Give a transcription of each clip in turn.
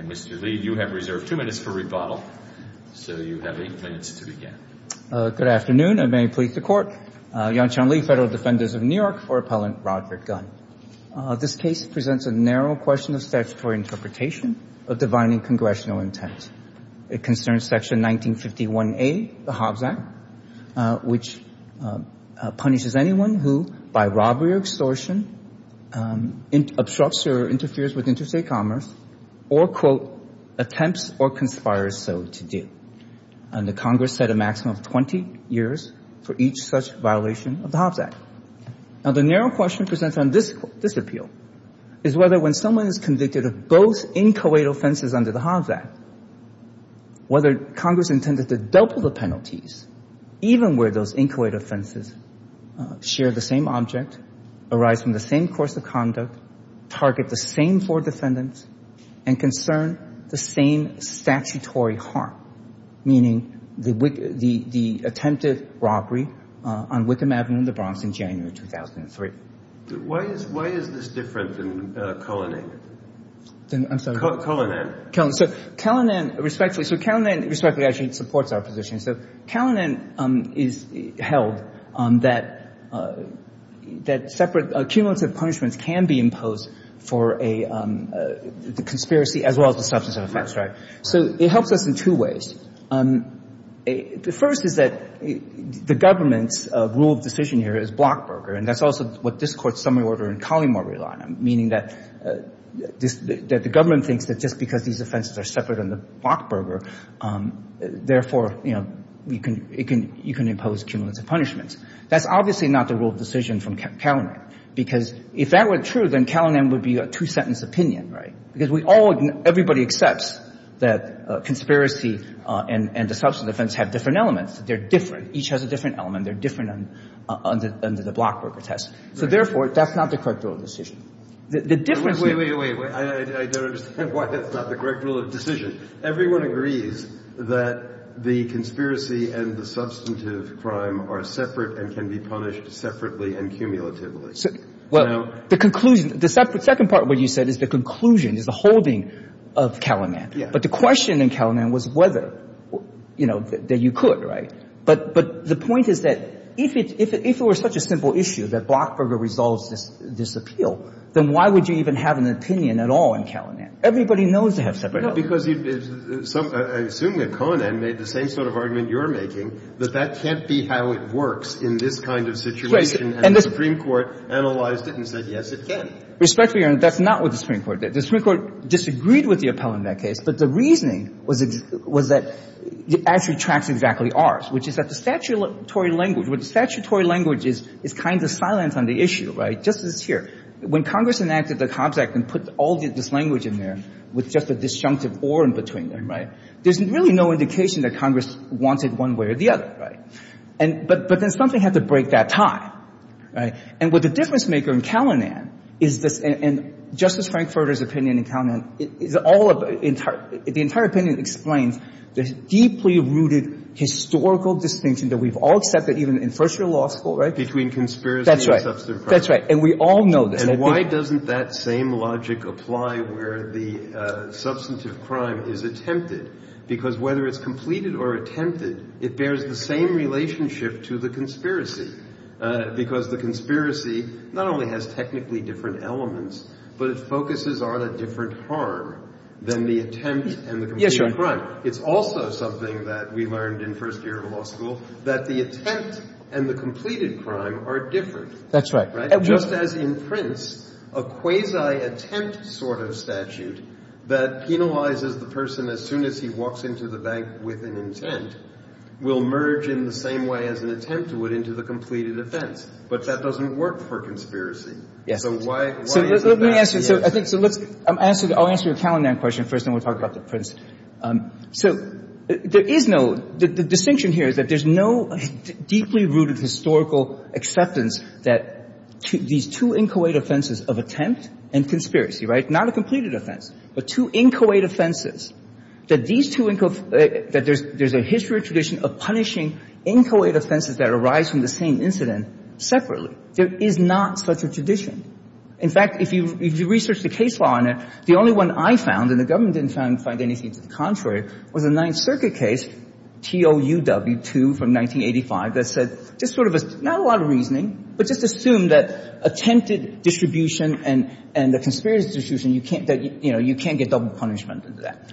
Mr. Lee, you have reserved two minutes for rebuttal, so you have eight minutes to begin. Good afternoon, and may it please the Court. Yan-Chan Lee, Federal Defenders of New York, for Appellant Roderick Gunn. This case presents a narrow question of statutory interpretation of divining congressional intent. It concerns Section 1951A of the Hobbs Act, which punishes anyone who, by robbery or extortion, obstructs or interferes with interstate commerce or, quote, attempts or conspires so to do. And the Congress set a maximum of 20 years for each such violation of the Hobbs Act. Now, the narrow question presented on this appeal is whether, when someone is convicted of both inchoate offenses under the Hobbs Act, whether Congress intended to double the penalties, even where those inchoate offenses share the same object, arise from the same course of conduct, target the same four defendants, and concern the same statutory harm, meaning the attempted robbery on Wickham Avenue in the Bronx in January 2003. Why is this different than Kalanen? I'm sorry. Kalanen. Kalanen, respectfully. So Kalanen, respectfully, actually supports our position. So Kalanen is held that separate accumulative punishments can be imposed for a conspiracy as well as a substance of offense. Right. So it helps us in two ways. The first is that the government's rule of decision here is Blockberger, and that's also what this Court's summary order in Colleymore relied on, meaning that the government thinks that just because these offenses are separate under Blockberger, therefore, you know, you can impose accumulative punishments. That's obviously not the rule of decision from Kalanen, because if that were true, then Kalanen would be a two-sentence opinion, right, because we all – everybody accepts that conspiracy and a substance offense have different elements. They're different. Each has a different element. They're different under the Blockberger test. So, therefore, that's not the correct rule of decision. The difference is – Wait, wait, wait. I don't understand why that's not the correct rule of decision. Everyone agrees that the conspiracy and the substantive crime are separate and can be punished separately and cumulatively. Well, the conclusion – the second part of what you said is the conclusion, is the holding of Kalanen. Yeah. But the question in Kalanen was whether, you know, that you could, right? But the point is that if it were such a simple issue that Blockberger resolves this appeal, then why would you even have an opinion at all in Kalanen? Everybody knows they have separate elements. No, because you – I assume that Kalanen made the same sort of argument you're making, that that can't be how it works in this kind of situation. And the Supreme Court analyzed it and said, yes, it can. Respectfully, Your Honor, that's not what the Supreme Court did. The Supreme Court disagreed with the appellant in that case, but the reasoning was that it actually tracks exactly ours, which is that the statutory language – where the statutory language is kind of silent on the issue, right, just as it's here. When Congress enacted the Hobbs Act and put all this language in there with just a disjunctive or in between them, right, there's really no indication that Congress wanted one way or the other. And so the Supreme Court said, well, we're going to have to break that, right? But then something had to break that tie, right? And what the difference maker in Kalanen is this – and Justice Frankfurter's opinion in Kalanen is all of – the entire opinion explains the deeply rooted historical distinction that we've all accepted even in first-year law school, right? Between conspiracy and substantive crime. That's right. And we all know this. And why doesn't that same logic apply where the substantive crime is attempted? Because whether it's completed or attempted, it bears the same relationship to the conspiracy, because the conspiracy not only has technically different elements, but it focuses on a different harm than the attempt and the completed crime. Yes, Your Honor. It's also something that we learned in first-year law school, that the attempt and the completed crime are different. That's right. Just as in Prince, a quasi-attempt sort of statute that penalizes the person as soon as he walks into the bank with an intent will merge in the same way as an attempt would into the completed offense. But that doesn't work for conspiracy. So why is that? So let me answer. So I think – so let's – I'll answer your Kalanen question first, and then we'll talk about the Prince. So there is no – the distinction here is that there's no deeply rooted historical acceptance that these two inchoate offenses of attempt and conspiracy, right, not a completed offense, but two inchoate offenses, that these two – that there's a history or tradition of punishing inchoate offenses that arise from the same incident separately. There is not such a tradition. In fact, if you research the case law on it, the only one I found, and the government didn't find anything to the contrary, was a Ninth Circuit case, TOUW-2 from 1985, that said just sort of a – not a lot of reasoning, but just assume that attempted distribution and the conspiracy distribution, you can't – that, you know, you can't get double punishment under that.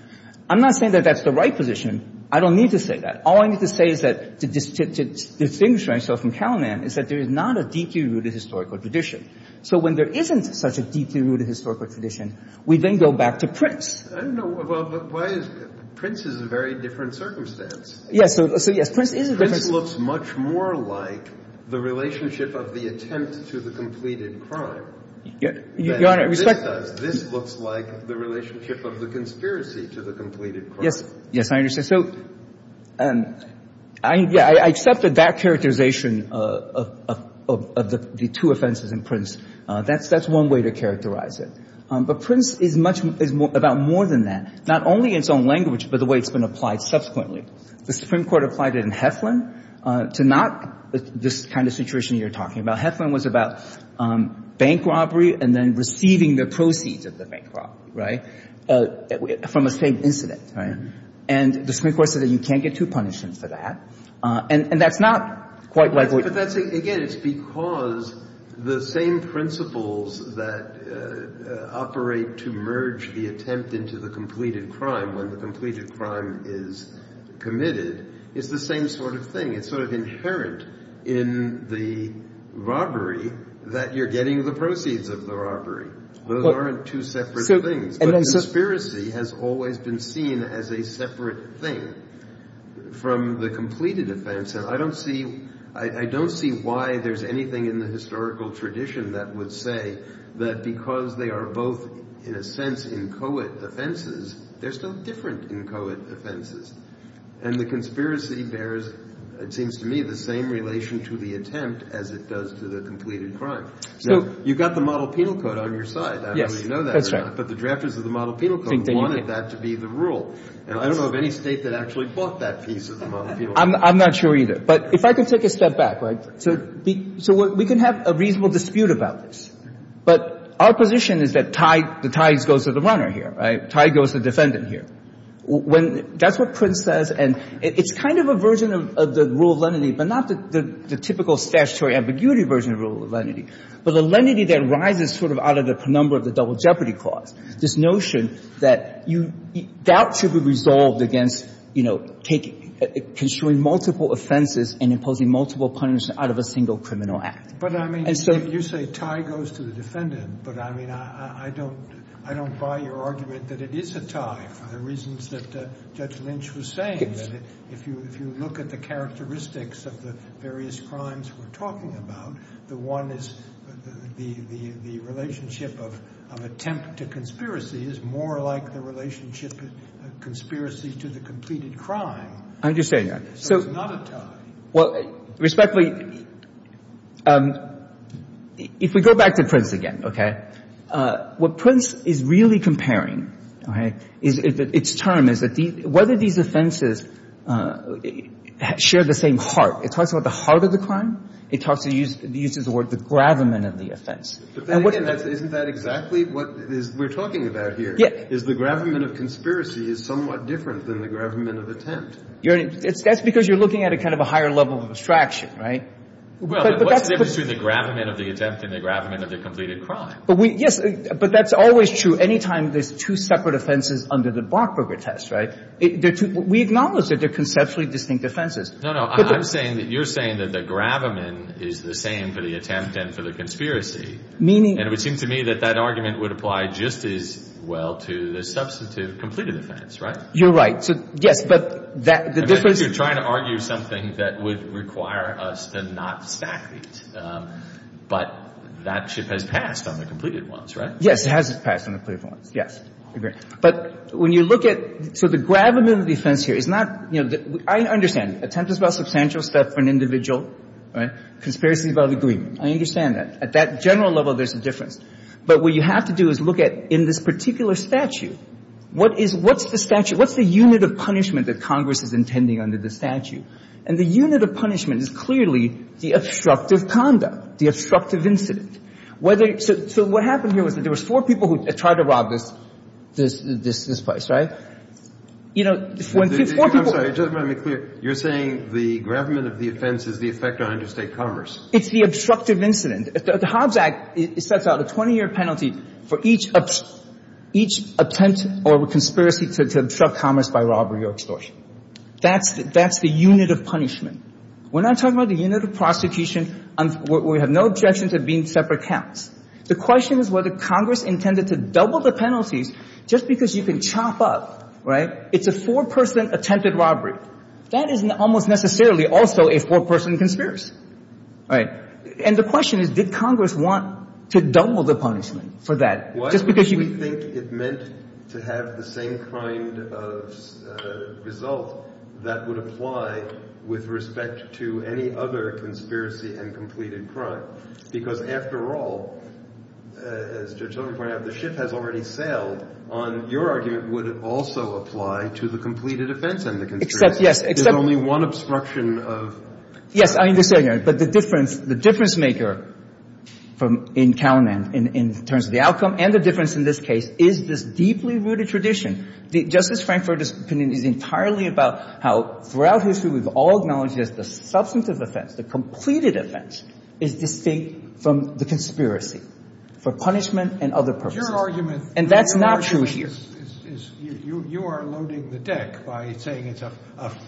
I'm not saying that that's the right position. I don't need to say that. All I need to say is that to distinguish myself from Kalanen is that there is not a deeply rooted historical tradition. So when there isn't such a deeply rooted historical tradition, we then go back to I don't know. Well, but why is – Prince is a very different circumstance. Yes. So yes, Prince is a different – Prince looks much more like the relationship of the attempt to the completed crime than this does. Your Honor, respect – This looks like the relationship of the conspiracy to the completed crime. Yes. Yes, I understand. So I accepted that characterization of the two offenses in Prince. That's one way to characterize it. But Prince is much – is about more than that, not only in its own language, but the way it's been applied subsequently. The Supreme Court applied it in Heflin to not this kind of situation you're talking about. Heflin was about bank robbery and then receiving the proceeds of the bank robbery, right, from the same incident, right? And the Supreme Court said that you can't get two punishments for that. And that's not quite what – But that's – again, it's because the same principles that operate to merge the same sort of thing. It's sort of inherent in the robbery that you're getting the proceeds of the Those aren't two separate things. But conspiracy has always been seen as a separate thing from the completed offense. And I don't see – I don't see why there's anything in the historical tradition that would say that because they are both in a sense inchoate offenses, they're still different inchoate offenses. And the conspiracy bears, it seems to me, the same relation to the attempt as it does to the completed crime. So you've got the model penal code on your side. I don't know if you know that or not. But the drafters of the model penal code wanted that to be the rule. And I don't know of any State that actually bought that piece of the model penal I'm not sure either. But if I could take a step back, right? Sure. So we can have a reasonable dispute about this. But our position is that the tie goes to the runner here, right? The tie goes to the defendant here. That's what Prince says. And it's kind of a version of the rule of lenity, but not the typical statutory ambiguity version of the rule of lenity. But the lenity that rises sort of out of the penumbra of the double jeopardy clause, this notion that doubt should be resolved against, you know, taking – construing multiple offenses and imposing multiple punishments out of a single criminal act. But, I mean, you say tie goes to the defendant. But, I mean, I don't buy your argument that it is a tie for the reasons that Judge Lynch was saying, that if you look at the characteristics of the various crimes we're talking about, the one is the relationship of attempt to conspiracy is more like the relationship of conspiracy to the completed crime. I'm just saying that. So it's not a tie. Well, respectfully, if we go back to Prince again, okay, what Prince is really comparing, okay, is its term is that whether these offenses share the same heart. It talks about the heart of the crime. It talks – it uses the word the gravamen of the offense. But then again, isn't that exactly what we're talking about here? Yeah. Is the gravamen of conspiracy is somewhat different than the gravamen of attempt. You're – that's because you're looking at a kind of a higher level of abstraction, right? Well, what's the difference between the gravamen of the attempt and the gravamen of the completed crime? But we – yes. But that's always true. Any time there's two separate offenses under the Blockberger test, right, we acknowledge that they're conceptually distinct offenses. No, no. I'm saying that you're saying that the gravamen is the same for the attempt and for the conspiracy. Meaning – And it would seem to me that that argument would apply just as well to the substantive completed offense, right? You're right. So, yes. But that – the difference – I think you're trying to argue something that would require us to not stack these. But that ship has passed on the completed ones, right? Yes. It has passed on the completed ones. Yes. Agreed. But when you look at – so the gravamen of the offense here is not – you know, I understand. Attempt is about substantial stuff for an individual, right? Conspiracy is about agreement. I understand that. At that general level, there's a difference. But what you have to do is look at in this particular statute, what is – what's the statute? What's the unit of punishment that Congress is intending under the statute? And the unit of punishment is clearly the obstructive conduct, the obstructive incident. Whether – so what happened here was that there was four people who tried to rob this – this place, right? You know, when four people – I'm sorry. Just to make it clear, you're saying the gravamen of the offense is the effect on interstate commerce. It's the obstructive incident. The Hobbs Act sets out a 20-year penalty for each – each attempt or conspiracy to obstruct commerce by robbery or extortion. That's – that's the unit of punishment. We're not talking about the unit of prosecution where we have no objection to being separate counts. The question is whether Congress intended to double the penalties just because you can chop up, right? It's a four-person attempted robbery. That isn't almost necessarily also a four-person conspiracy, right? And the question is, did Congress want to double the punishment for that just because you can – Did Congress intend to have the same kind of result that would apply with respect to any other conspiracy and completed crime? Because, after all, as Judge Sotomayor pointed out, the ship has already sailed on your argument would it also apply to the completed offense and the conspiracy? Except, yes, except – There's only one obstruction of – Yes, I understand. But the difference – the difference maker from – in Calumet in terms of the deeply rooted tradition, Justice Frankfort is entirely about how throughout history we've all acknowledged that the substantive offense, the completed offense is distinct from the conspiracy for punishment and other purposes. Your argument – And that's not true here. You are loading the deck by saying it's a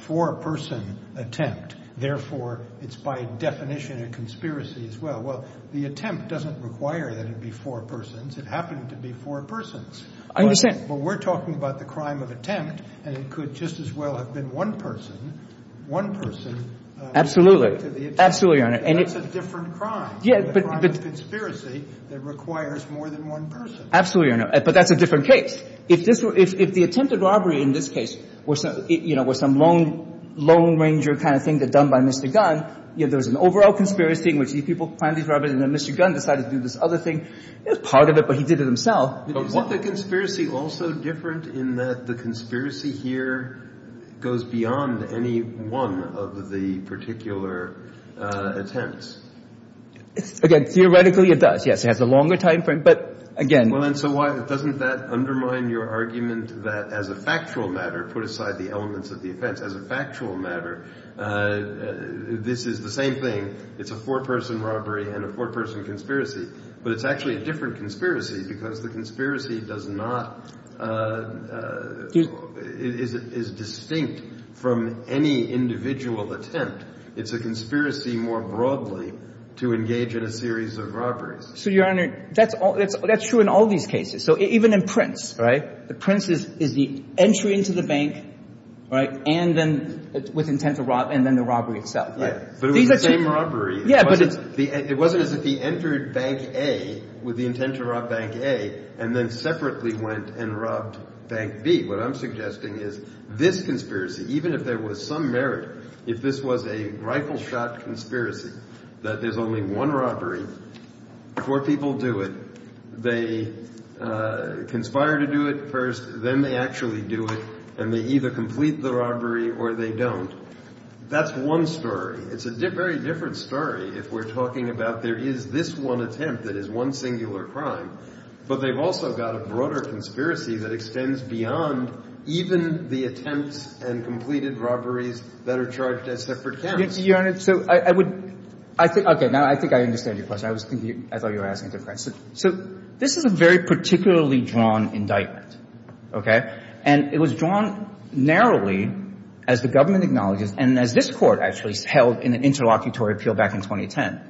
four-person attempt. Therefore, it's by definition a conspiracy as well. Well, the attempt doesn't require that it be four persons. It happened to be four persons. I understand. But we're talking about the crime of attempt, and it could just as well have been one person, one person – Absolutely. Absolutely, Your Honor. And that's a different crime. Yeah, but – A crime of conspiracy that requires more than one person. Absolutely, Your Honor. But that's a different case. If this – if the attempted robbery in this case was, you know, was some lone – lone ranger kind of thing done by Mr. Gunn, you know, there was an overall conspiracy in which these people planned these robberies and then Mr. Gunn decided to do this other thing. It was part of it, but he did it himself. But what – Isn't the conspiracy also different in that the conspiracy here goes beyond any one of the particular attempts? Again, theoretically, it does. Yes, it has a longer time frame, but again – Well, and so why – doesn't that undermine your argument that as a factual matter, put aside the elements of the offense, as a factual matter, this is the same thing? It's a four-person robbery and a four-person conspiracy. But it's actually a different conspiracy because the conspiracy does not – is distinct from any individual attempt. It's a conspiracy more broadly to engage in a series of robberies. So, Your Honor, that's all – that's true in all these cases. So even in Prince, right, the Prince is the entry into the bank, right, and then – with intent to rob – and then the robbery itself. But it was the same robbery. Yeah, but it's – It wasn't as if he entered Bank A with the intent to rob Bank A and then separately went and robbed Bank B. What I'm suggesting is this conspiracy, even if there was some merit, if this was a rifle-shot conspiracy, that there's only one robbery, four people do it, they conspire to do it first, then they actually do it, and they either complete the robbery or they don't. That's one story. It's a very different story if we're talking about there is this one attempt that is one singular crime, but they've also got a broader conspiracy that extends beyond even the attempts and completed robberies that are charged as separate counts. Your Honor, so I would – I think – okay. Now, I think I understand your question. I was thinking – I thought you were asking a different question. So this is a very particularly drawn indictment, okay? And it was drawn narrowly, as the government acknowledges, and as this Court actually held in an interlocutory appeal back in 2010,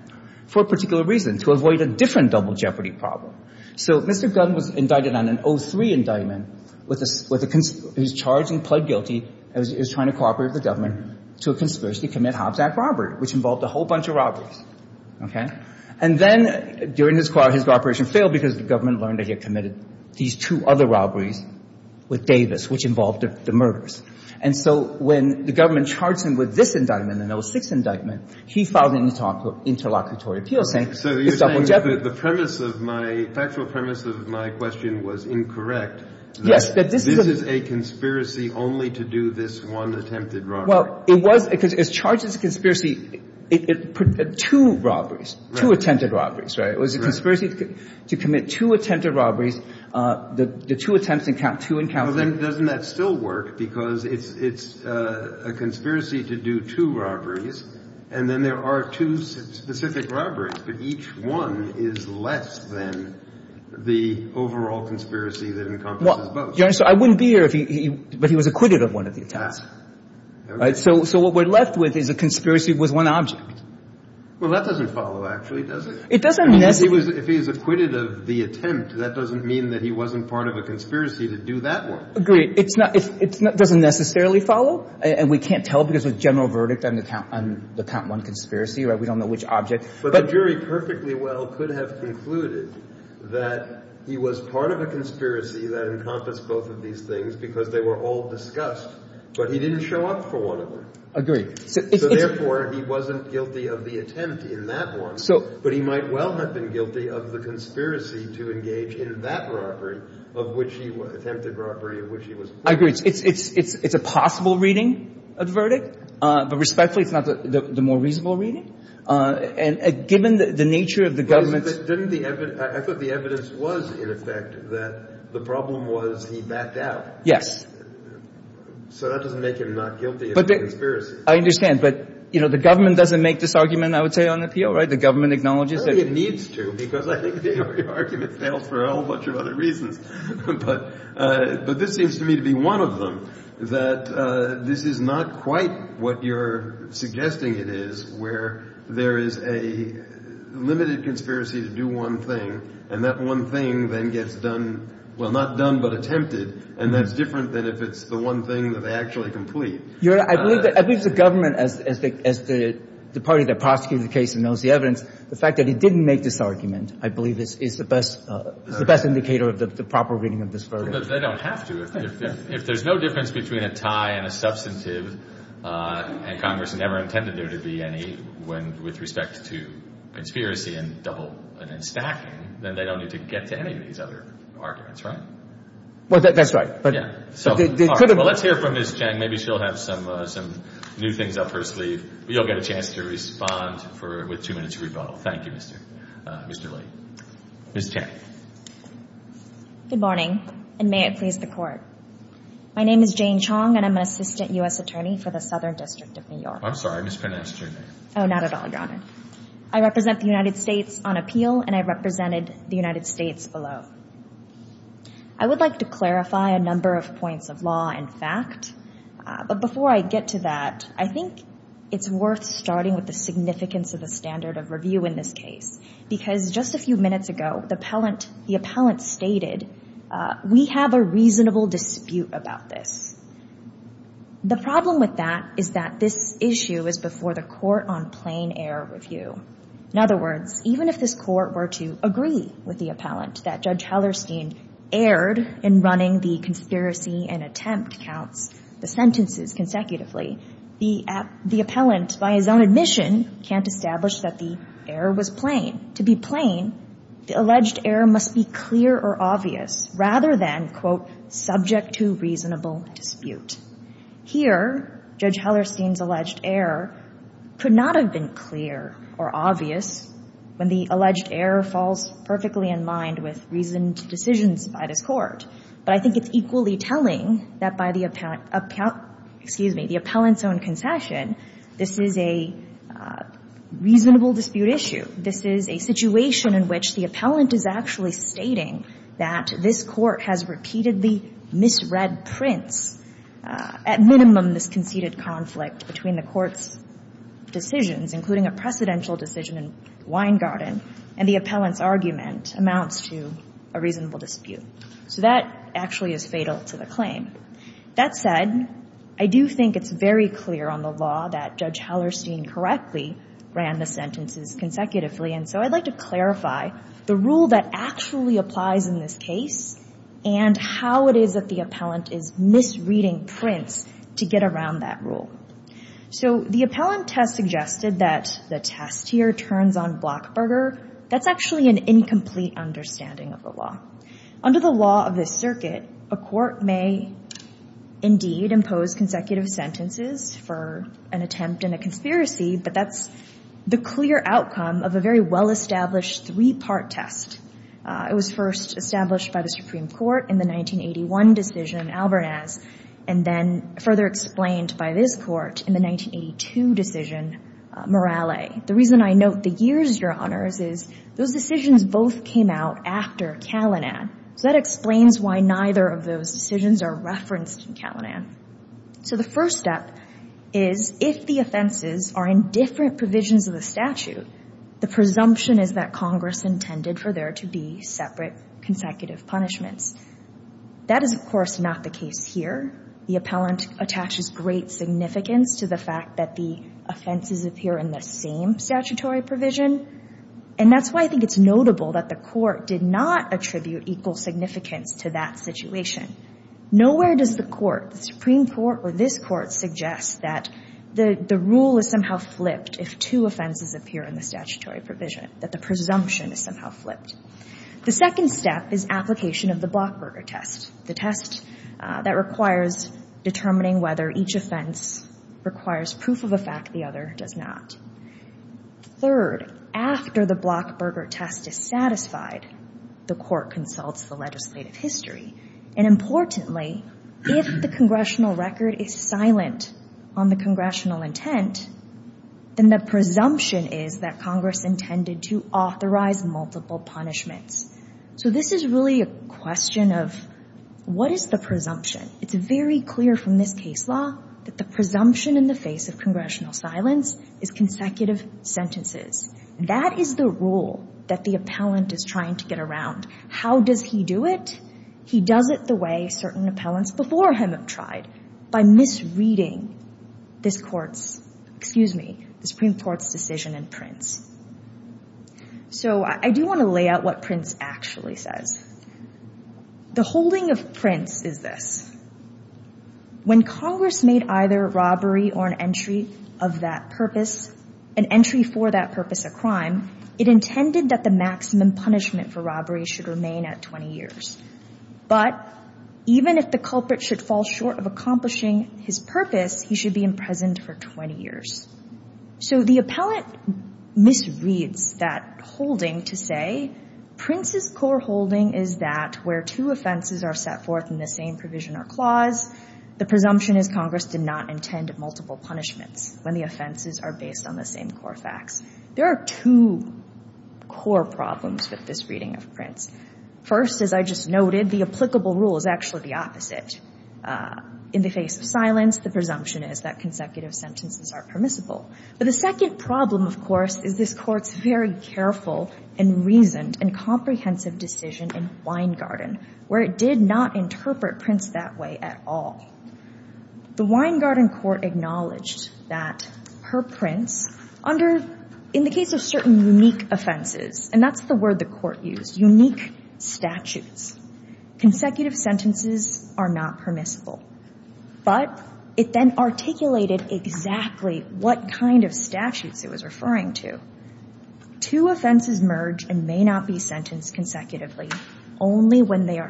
for a particular reason, to avoid a different double jeopardy problem. So Mr. Gunn was indicted on an 03 indictment with a – he was charged and pled guilty as he was trying to cooperate with the government to a conspiracy to commit Hobbs Act robbery, which involved a whole bunch of robberies, okay? And then during his cooperation failed because the government learned that he had with Davis, which involved the murders. And so when the government charged him with this indictment, an 06 indictment, he filed an interlocutory appeal saying it's double jeopardy. So you're saying the premise of my – the factual premise of my question was incorrect. Yes. That this is a conspiracy only to do this one attempted robbery. Well, it was – because it's charged as a conspiracy – two robberies, two attempted robberies, right? It was a conspiracy to commit two attempted robberies. The two attempts to count two encounters. Well, then doesn't that still work? Because it's a conspiracy to do two robberies, and then there are two specific robberies, but each one is less than the overall conspiracy that encompasses both. Well, Your Honor, so I wouldn't be here if he – but he was acquitted of one of the attempts. Right? So what we're left with is a conspiracy with one object. Well, that doesn't follow, actually, does it? It doesn't necessarily. If he was – if he was acquitted of the attempt, that doesn't mean that he wasn't part of a conspiracy to do that one. Agreed. It's not – it doesn't necessarily follow, and we can't tell because there's a general verdict on the count – on the count one conspiracy, right? We don't know which object. But the jury perfectly well could have concluded that he was part of a conspiracy that encompassed both of these things because they were all discussed, but he didn't show up for one of them. Agreed. So therefore, he wasn't guilty of the attempt in that one. But he might well have been guilty of the conspiracy to engage in that robbery of which he – attempted robbery of which he was part. I agree. It's a possible reading of the verdict, but respectfully, it's not the more reasonable reading. And given the nature of the government's – But isn't the – I thought the evidence was, in effect, that the problem was he backed out. Yes. So that doesn't make him not guilty of the conspiracy. I understand. But, you know, the government doesn't make this argument, I would say, on appeal, right? The government acknowledges that – I don't think it needs to because I think the argument fails for a whole bunch of other reasons. But this seems to me to be one of them, that this is not quite what you're suggesting it is, where there is a limited conspiracy to do one thing, and that one thing then gets done – well, not done, but attempted, and that's different than if it's the one thing that they actually complete. I believe the government, as the party that prosecuted the case and knows the evidence, the fact that he didn't make this argument, I believe, is the best indicator of the proper reading of this verdict. But they don't have to. If there's no difference between a tie and a substantive, and Congress never intended there to be any, when – with respect to conspiracy and double – and stacking, then they don't need to get to any of these other arguments, right? Well, that's right. But – Let's hear from Ms. Chang. Maybe she'll have some new things up her sleeve. You'll get a chance to respond with two minutes rebuttal. Thank you, Mr. Lee. Ms. Chang. Good morning, and may it please the Court. My name is Jane Chong, and I'm an assistant U.S. attorney for the Southern District of New York. I'm sorry. I mispronounced your name. Oh, not at all, Your Honor. I represent the United States on appeal, and I represented the United States below. I would like to clarify a number of points of law and fact, but before I get to that, I think it's worth starting with the significance of the standard of review in this case, because just a few minutes ago, the appellant stated, we have a reasonable dispute about this. The problem with that is that this issue is before the court on plain-air review. In other words, even if this court were to agree with the appellant that Judge Hellerstein erred in running the conspiracy and attempt counts, the sentences consecutively, the appellant, by his own admission, can't establish that the error was plain. To be plain, the alleged error must be clear or obvious rather than, quote, subject to reasonable dispute. Here, Judge Hellerstein's alleged error could not have been clear or obvious when the alleged error falls perfectly in mind with reasoned decisions by this court. But I think it's equally telling that by the appellant's own concession, this is a reasonable dispute issue. This is a situation in which the appellant is actually stating that this court has repeatedly misread prints, at minimum, this conceded conflict between the court's decisions, including a precedential decision in Weingarten, and the appellant's argument amounts to a reasonable dispute. So that actually is fatal to the claim. That said, I do think it's very clear on the law that Judge Hellerstein correctly ran the sentences consecutively. And so I'd like to clarify the rule that actually applies in this case and how it is that the appellant is misreading prints to get around that rule. So the appellant has suggested that the test here turns on Blockberger. That's actually an incomplete understanding of the law. Under the law of this circuit, a court may indeed impose consecutive sentences for an attempt in a conspiracy, but that's the clear outcome of a very well-established three-part test. It was first established by the Supreme Court in the 1981 decision, Albernaz, and then further explained by this court in the 1982 decision, Morale. The reason I note the years, Your Honors, is those decisions both came out after Calinan. So that explains why neither of those decisions are referenced in Calinan. So the first step is if the offenses are in different provisions of the statute, the presumption is that Congress intended for there to be separate consecutive punishments. That is, of course, not the case here. The appellant attaches great significance to the fact that the offenses appear in the same statutory provision, and that's why I think it's notable that the court did not attribute equal significance to that situation. Nowhere does the Supreme Court or this court suggest that the rule is somehow flipped if two offenses appear in the statutory provision, that the presumption is somehow flipped. The second step is application of the Blockberger test, the test that requires determining whether each offense requires proof of a fact the other does not. Third, after the Blockberger test is satisfied, the court consults the legislative history. And importantly, if the congressional record is silent on the congressional intent, then the presumption is that Congress intended to authorize multiple punishments. So this is really a question of what is the presumption? It's very clear from this case law that the presumption in the face of congressional silence is consecutive sentences. That is the rule that the appellant is trying to get around. How does he do it? He does it the way certain appellants before him have tried, by misreading this Supreme Court's decision in Prince. So I do want to lay out what Prince actually says. The holding of Prince is this. When Congress made either robbery or an entry for that purpose a crime, it intended that the maximum punishment for robbery should remain at 20 years. But even if the culprit should fall short of accomplishing his purpose, he should be imprisoned for 20 years. So the appellant misreads that holding to say Prince's core holding is that where two offenses are set forth in the same provision or clause, the presumption is Congress did not intend multiple punishments when the offenses are based on the same core facts. There are two core problems with this reading of Prince. First, as I just noted, the applicable rule is actually the opposite. In the face of silence, the presumption is that consecutive sentences are permissible. But the second problem, of course, is this Court's very careful and reasoned and comprehensive decision in Weingarten, where it did not interpret Prince that way at all. The Weingarten Court acknowledged that per Prince, in the case of certain unique offenses, and that's the word the Court used, unique statutes, consecutive sentences are not permissible. But it then articulated exactly what kind of statutes it was referring to. Two offenses merge and may not be sentenced consecutively only when they are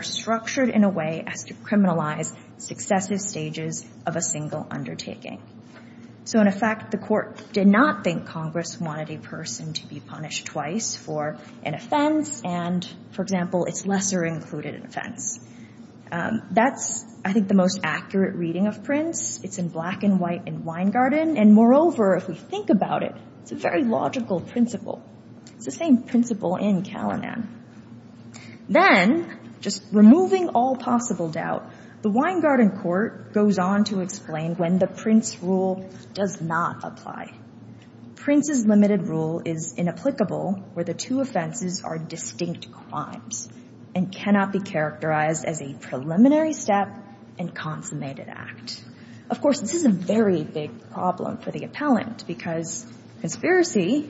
a single undertaking. So, in effect, the Court did not think Congress wanted a person to be punished twice for an offense and, for example, it's lesser included offense. That's, I think, the most accurate reading of Prince. It's in Black and White and Weingarten. And, moreover, if we think about it, it's a very logical principle. It's the same principle in Calinan. Then, just removing all possible doubt, the Weingarten Court goes on to explain when the Prince rule does not apply. Prince's limited rule is inapplicable where the two offenses are distinct crimes and cannot be characterized as a preliminary step and consummated act. Of course, this is a very big problem for the appellant because conspiracy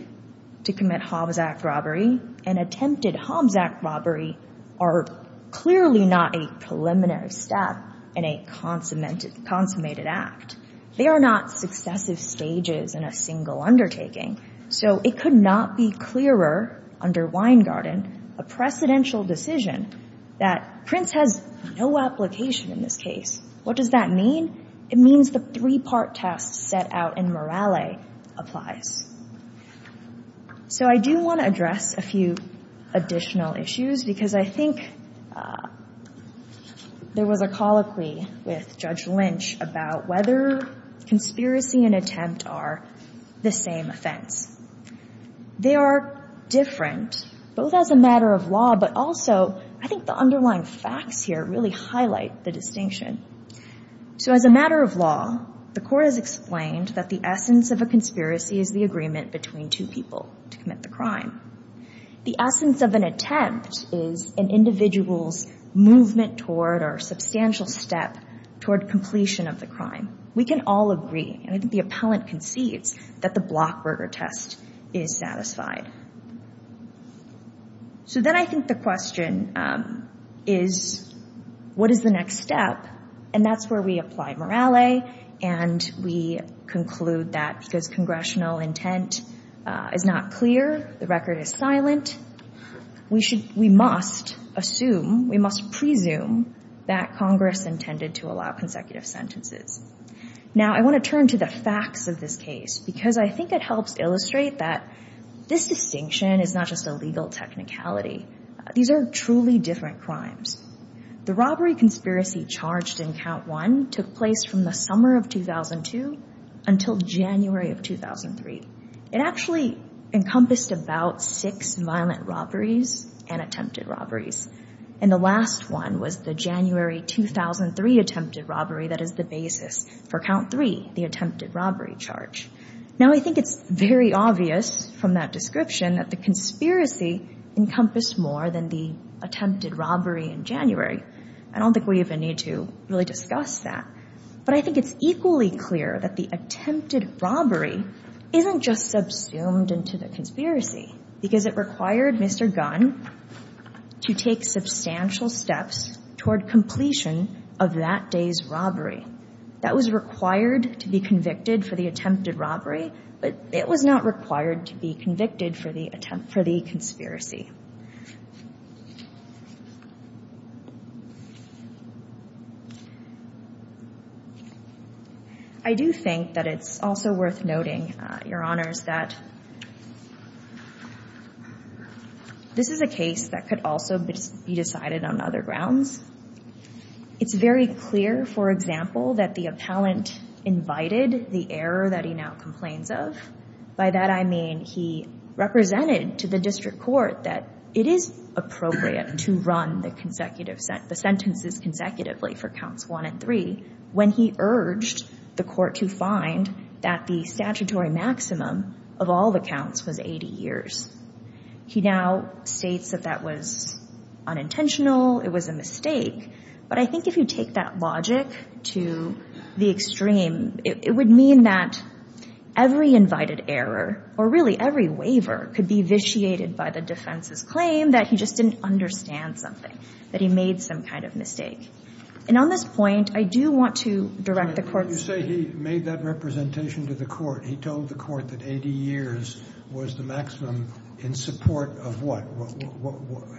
to commit Hobbs Act robbery and attempted Hobbs Act robbery are clearly not a preliminary step and a consummated act. They are not successive stages in a single undertaking. So it could not be clearer under Weingarten, a precedential decision, that Prince has no application in this case. What does that mean? It means the three-part test set out in Morale applies. So I do want to address a few additional issues because I think there was a colloquy with Judge Lynch about whether conspiracy and attempt are the same offense. They are different, both as a matter of law, but also I think the underlying facts here really highlight the distinction. So as a matter of law, the Court has explained that the essence of a conspiracy is the agreement between two people to commit the crime. The essence of an attempt is an individual's movement toward or substantial step toward completion of the crime. We can all agree, and I think the appellant concedes, that the Blockberger test is satisfied. So then I think the question is, what is the next step? And that's where we apply Morale, and we conclude that because the congressional intent is not clear, the record is silent, we must assume, we must presume that Congress intended to allow consecutive sentences. Now, I want to turn to the facts of this case because I think it helps illustrate that this distinction is not just a legal technicality. These are truly different crimes. The robbery conspiracy charged in Count I took place from the summer of 2002 until January of 2003. It actually encompassed about six violent robberies and attempted robberies. And the last one was the January 2003 attempted robbery that is the basis for Count III, the attempted robbery charge. Now, I think it's very obvious from that description that the conspiracy encompassed more than the attempted robbery in January. I don't think we even need to really discuss that. But I think it's equally clear that the attempted robbery isn't just subsumed into the conspiracy because it required Mr. Gunn to take substantial steps toward completion of that day's robbery. That was required to be convicted for the attempted robbery, but it was not required to be convicted for the conspiracy. I do think that it's also worth noting, Your Honors, that this is a case that could also be decided on other grounds. It's very clear, for example, that the appellant invited the error that he now complains of. By that I mean he represented to the district court that it is appropriate to run the sentences consecutively for Counts I and III when he urged the court to find that the statutory maximum of all the counts was 80 years. He now states that that was unintentional, it was a mistake. But I think if you take that logic to the extreme, it would mean that every invited error, or really every waiver, could be vitiated by the defense's claim that he just didn't understand something, that he made some kind of mistake. And on this point, I do want to direct the court's... When you say he made that representation to the court, he told the court that 80 years was the maximum in support of what?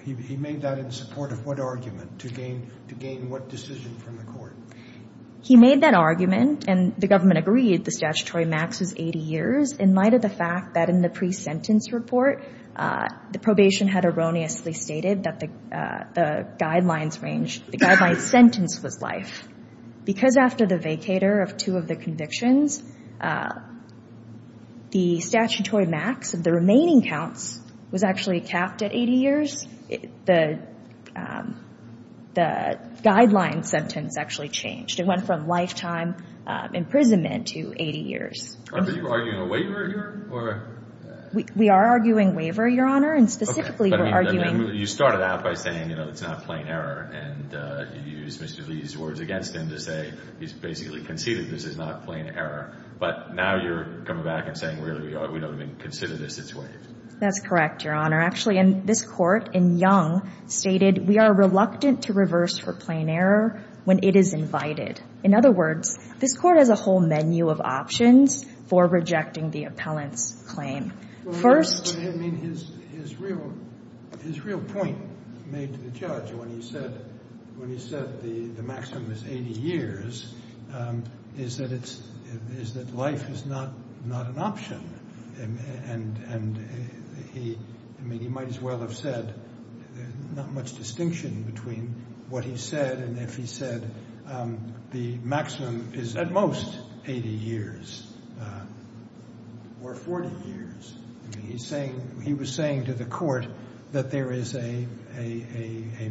He made that in support of what argument to gain what decision from the court? He made that argument, and the government agreed the statutory max was 80 years, in light of the fact that in the pre-sentence report, the probation had erroneously stated that the guidelines range, the guideline sentence was life. Because after the vacator of two of the convictions, the statutory max of the remaining counts was actually capped at 80 years, the guideline sentence actually changed. It went from lifetime imprisonment to 80 years. Are you arguing a waiver here? We are arguing waiver, Your Honor, and specifically we're arguing... You started out by saying, you know, it's not plain error, and you used Mr. Lee's words against him to say he's basically conceded this is not plain error, but now you're coming back and saying, really, we don't even consider this as waived. That's correct, Your Honor. Actually, this court in Young stated, we are reluctant to reverse for plain error when it is invited. In other words, this court has a whole menu of options for rejecting the appellant's claim. First... His real point made to the judge when he said the maximum is 80 years, is that life is not an option, and he might as well have said not much distinction between what he said and if he said the maximum is at most 80 years or 40 years. He was saying to the court that there is a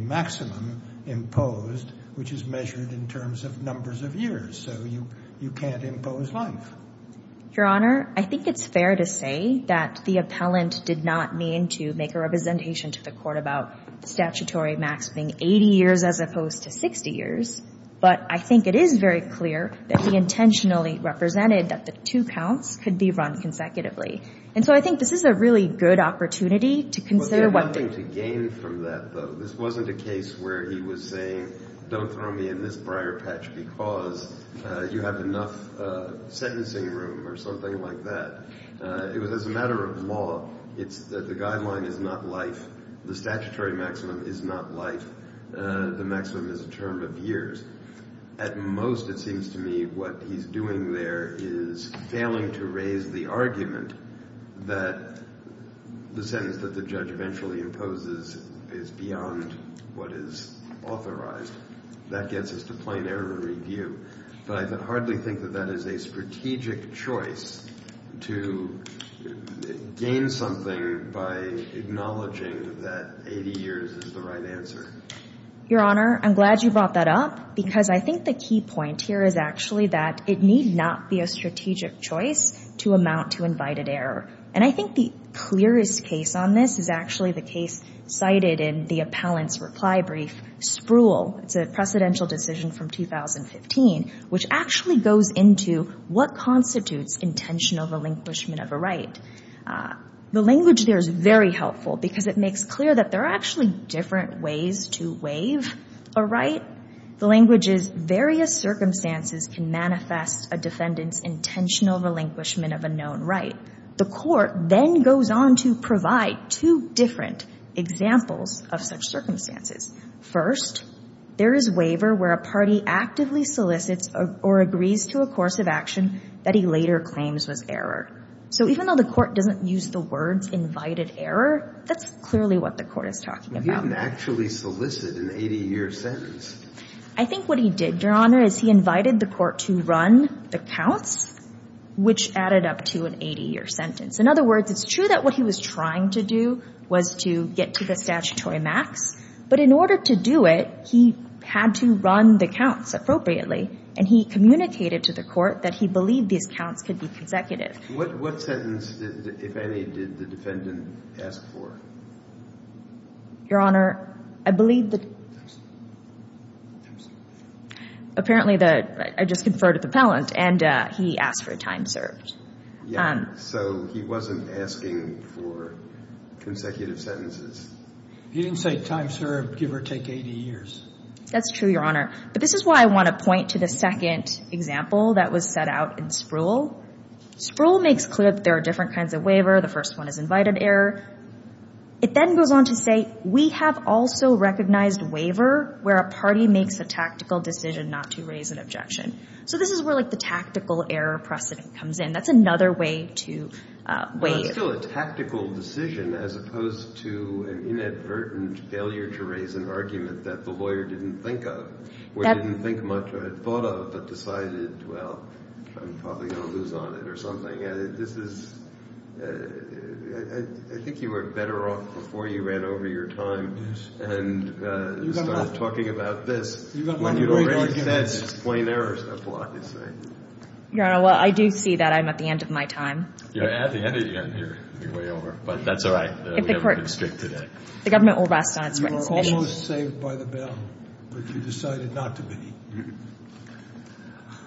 maximum imposed, which is measured in terms of numbers of years, so you can't impose life. Your Honor, I think it's fair to say that the appellant did not mean to make a representation to the court about the statutory maximum being 80 years as opposed to 60 years, but I think it is very clear that he intentionally represented that the two counts could be run consecutively. And so I think this is a really good opportunity to consider what... But there's nothing to gain from that, though. This wasn't a case where he was saying, don't throw me in this briar patch because you have enough sentencing room or something like that. It was as a matter of law. It's that the guideline is not life. The statutory maximum is not life. The maximum is a term of years. At most, it seems to me, what he's doing there is failing to raise the argument that the sentence that the judge eventually imposes is beyond what is authorized. That gets us to plain error review. But I hardly think that that is a strategic choice to gain something by acknowledging that 80 years is the right answer. Your Honor, I'm glad you brought that up because I think the key point here is actually that it need not be a strategic choice to amount to invited error. And I think the clearest case on this is actually the case cited in the appellant's reply brief, Spruill. It's a precedential decision from 2015, which actually goes into what constitutes intentional relinquishment of a right. The language there is very helpful because it makes clear that there are actually different ways to waive a right. The language is, various circumstances can manifest a defendant's intentional relinquishment of a known right. The court then goes on to provide two different examples of such circumstances. First, there is waiver where a party actively solicits or agrees to a course of action that he later claims was error. So even though the court doesn't use the words invited error, that's clearly what the court is talking about. But he didn't actually solicit an 80-year sentence. I think what he did, Your Honor, is he invited the court to run the counts, which added up to an 80-year sentence. In other words, it's true that what he was trying to do was to get to the statutory max, but in order to do it, he had to run the counts appropriately. And he communicated to the court that he believed these counts could be consecutive. What sentence, if any, did the defendant ask for? Your Honor, I believe that apparently I just conferred at the Pellant, and he asked for a time served. Yeah, so he wasn't asking for consecutive sentences. He didn't say time served, give or take 80 years. That's true, Your Honor. But this is why I want to point to the second example that was set out in Spruill. Spruill makes clear that there are different kinds of waiver. The first one is invited error. It then goes on to say, we have also recognized waiver where a party makes a tactical decision not to raise an objection. So this is where the tactical error precedent comes in. That's another way to waive. It's still a tactical decision as opposed to an inadvertent failure to raise an argument that the lawyer didn't think of or didn't think much or had thought of but decided, well, I'm probably going to lose on it or something. This is – I think you were better off before you ran over your time and started talking about this when you'd already said it's plain error. That's a lot to say. Your Honor, well, I do see that I'm at the end of my time. You're at the end of your time. You're way over. But that's all right. We haven't been strict today. The government will rest on its recognition. You were almost saved by the bell, but you decided not to be.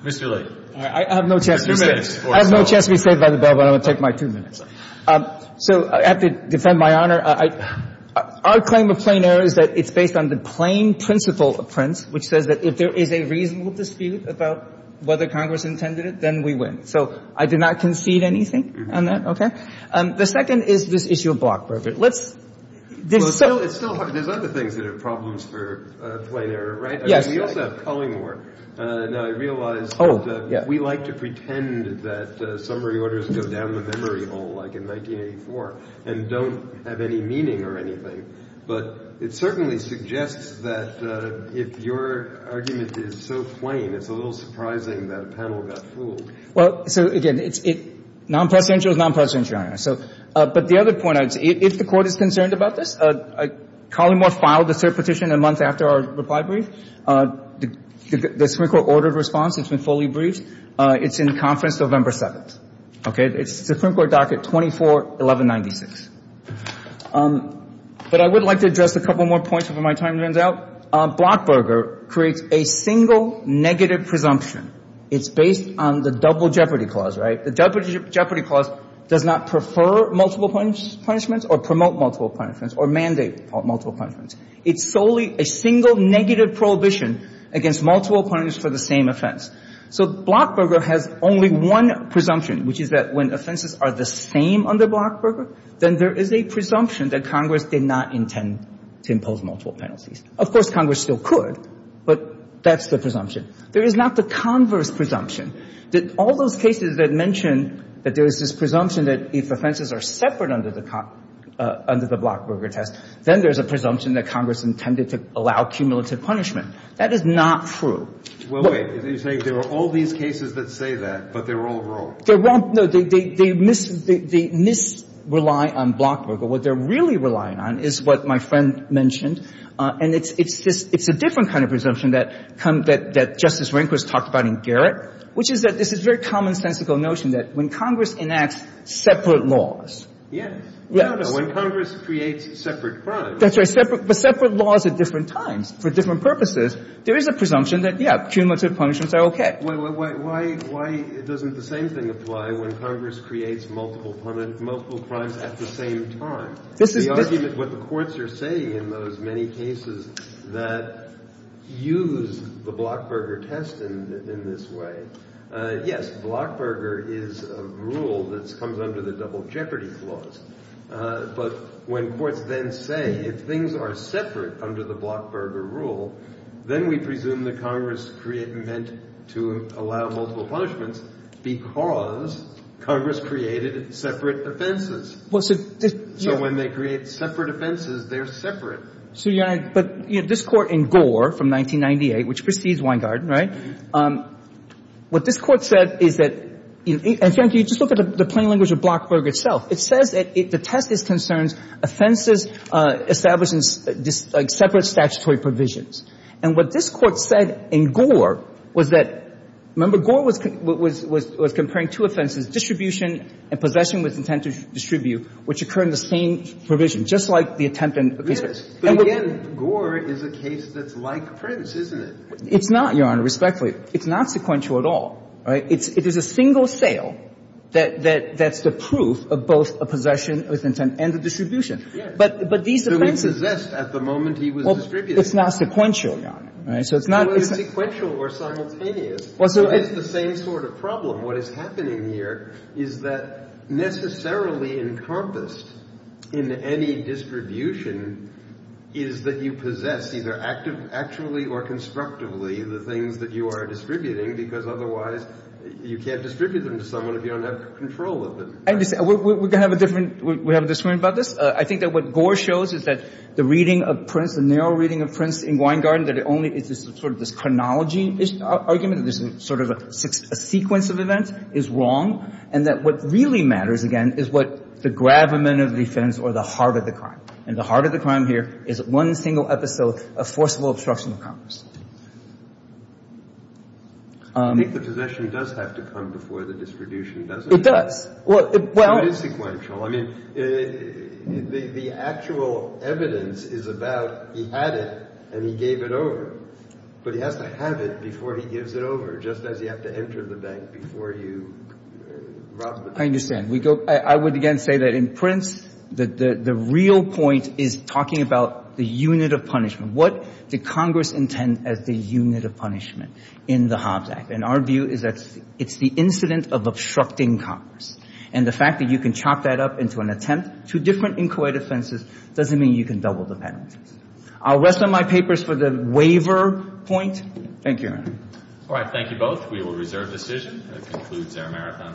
Mr. Lee. I have no chance to be saved by the bell, but I'm going to take my two minutes. So I have to defend my honor. Our claim of plain error is that it's based on the plain principle of Prince, which says that if there is a reasonable dispute about whether Congress intended it, then we win. So I did not concede anything on that? The second is this issue of block broker. Let's – Well, it's still – there's other things that are problems for plain error, right? Yes. We also have culling work. Now, I realize that we like to pretend that summary orders go down the memory hole, like in 1984, and don't have any meaning or anything. But it certainly suggests that if your argument is so plain, it's a little surprising that a panel got fooled. Well, so again, it's – non-presidential is non-presidential, Your Honor. So – but the other point, if the Court is concerned about this, Colleymore filed a cert petition a month after our reply brief. The Supreme Court ordered response. It's been fully briefed. It's in conference November 7th. Okay? It's the Supreme Court docket 24-1196. But I would like to address a couple more points before my time runs out. Block broker creates a single negative presumption. It's based on the double jeopardy clause, right? The double jeopardy clause does not prefer multiple punishments or promote multiple punishments or mandate multiple punishments. It's solely a single negative prohibition against multiple punishments for the same offense. So block broker has only one presumption, which is that when offenses are the same under block broker, then there is a presumption that Congress did not intend to impose multiple penalties. Of course, Congress still could, but that's the presumption. There is not the converse presumption that all those cases that mention that there is this presumption that if offenses are separate under the block broker test, then there's a presumption that Congress intended to allow cumulative punishment. That is not true. Well, wait. You're saying there are all these cases that say that, but they're all wrong. They're wrong. No, they misrely on block broker. What they're really relying on is what my friend mentioned. And it's a different kind of presumption that Justice Rehnquist talked about in Garrett, which is that this is a very commonsensical notion that when Congress enacts separate laws. Yes. When Congress creates separate crimes. That's right. But separate laws at different times for different purposes, there is a presumption that, yes, cumulative punishments are okay. Why doesn't the same thing apply when Congress creates multiple crimes at the same time? The argument, what the courts are saying in those many cases that use the block broker test in this way, yes, block broker is a rule that comes under the double jeopardy clause. But when courts then say if things are separate under the block broker rule, then we presume that Congress created meant to allow multiple punishments because Congress created separate offenses. So when they create separate offenses, they're separate. But this Court in Gore from 1998, which precedes Weingarten, right? What this Court said is that you just look at the plain language of block broker itself. It says that the test is concerns offenses established in separate statutory provisions. And what this Court said in Gore was that, remember, Gore was comparing two offenses, distribution and possession with intent to distribute, which occur in the same provision, just like the attempt and the case. And again, Gore is a case that's like Prince, isn't it? It's not, Your Honor, respectfully. It's not sequential at all, right? It is a single sale that's the proof of both a possession with intent and a distribution. But these offenses at the moment he was distributed. It's not sequential, Your Honor. So it's not. It's sequential or simultaneous. It's the same sort of problem. What is happening here is that necessarily encompassed in any distribution is that you possess either actively or constructively the things that you are distributing because otherwise you can't distribute them to someone if you don't have control of them. I understand. We're going to have a different – we have a disagreement about this. I think that what Gore shows is that the reading of Prince, the narrow reading of Prince in Weingarten, that it only is sort of this chronology argument. There's sort of a sequence of events is wrong. And that what really matters, again, is what the gravamen of defense or the heart of the crime. And the heart of the crime here is one single episode of forcible obstruction of Congress. I think the possession does have to come before the distribution, doesn't it? It does. Well, it is sequential. I mean, the actual evidence is about he had it and he gave it over. But he has to have it before he gives it over, just as you have to enter the bank before you rob the bank. I understand. I would, again, say that in Prince, the real point is talking about the unit of What did Congress intend as the unit of punishment in the Hobbs Act? And our view is that it's the incident of obstructing Congress. And the fact that you can chop that up into an attempt, two different inquiry defenses, doesn't mean you can double the penalties. I'll rest on my papers for the waiver point. Thank you. All right. Thank you both. We will reserve decision. That concludes our marathon.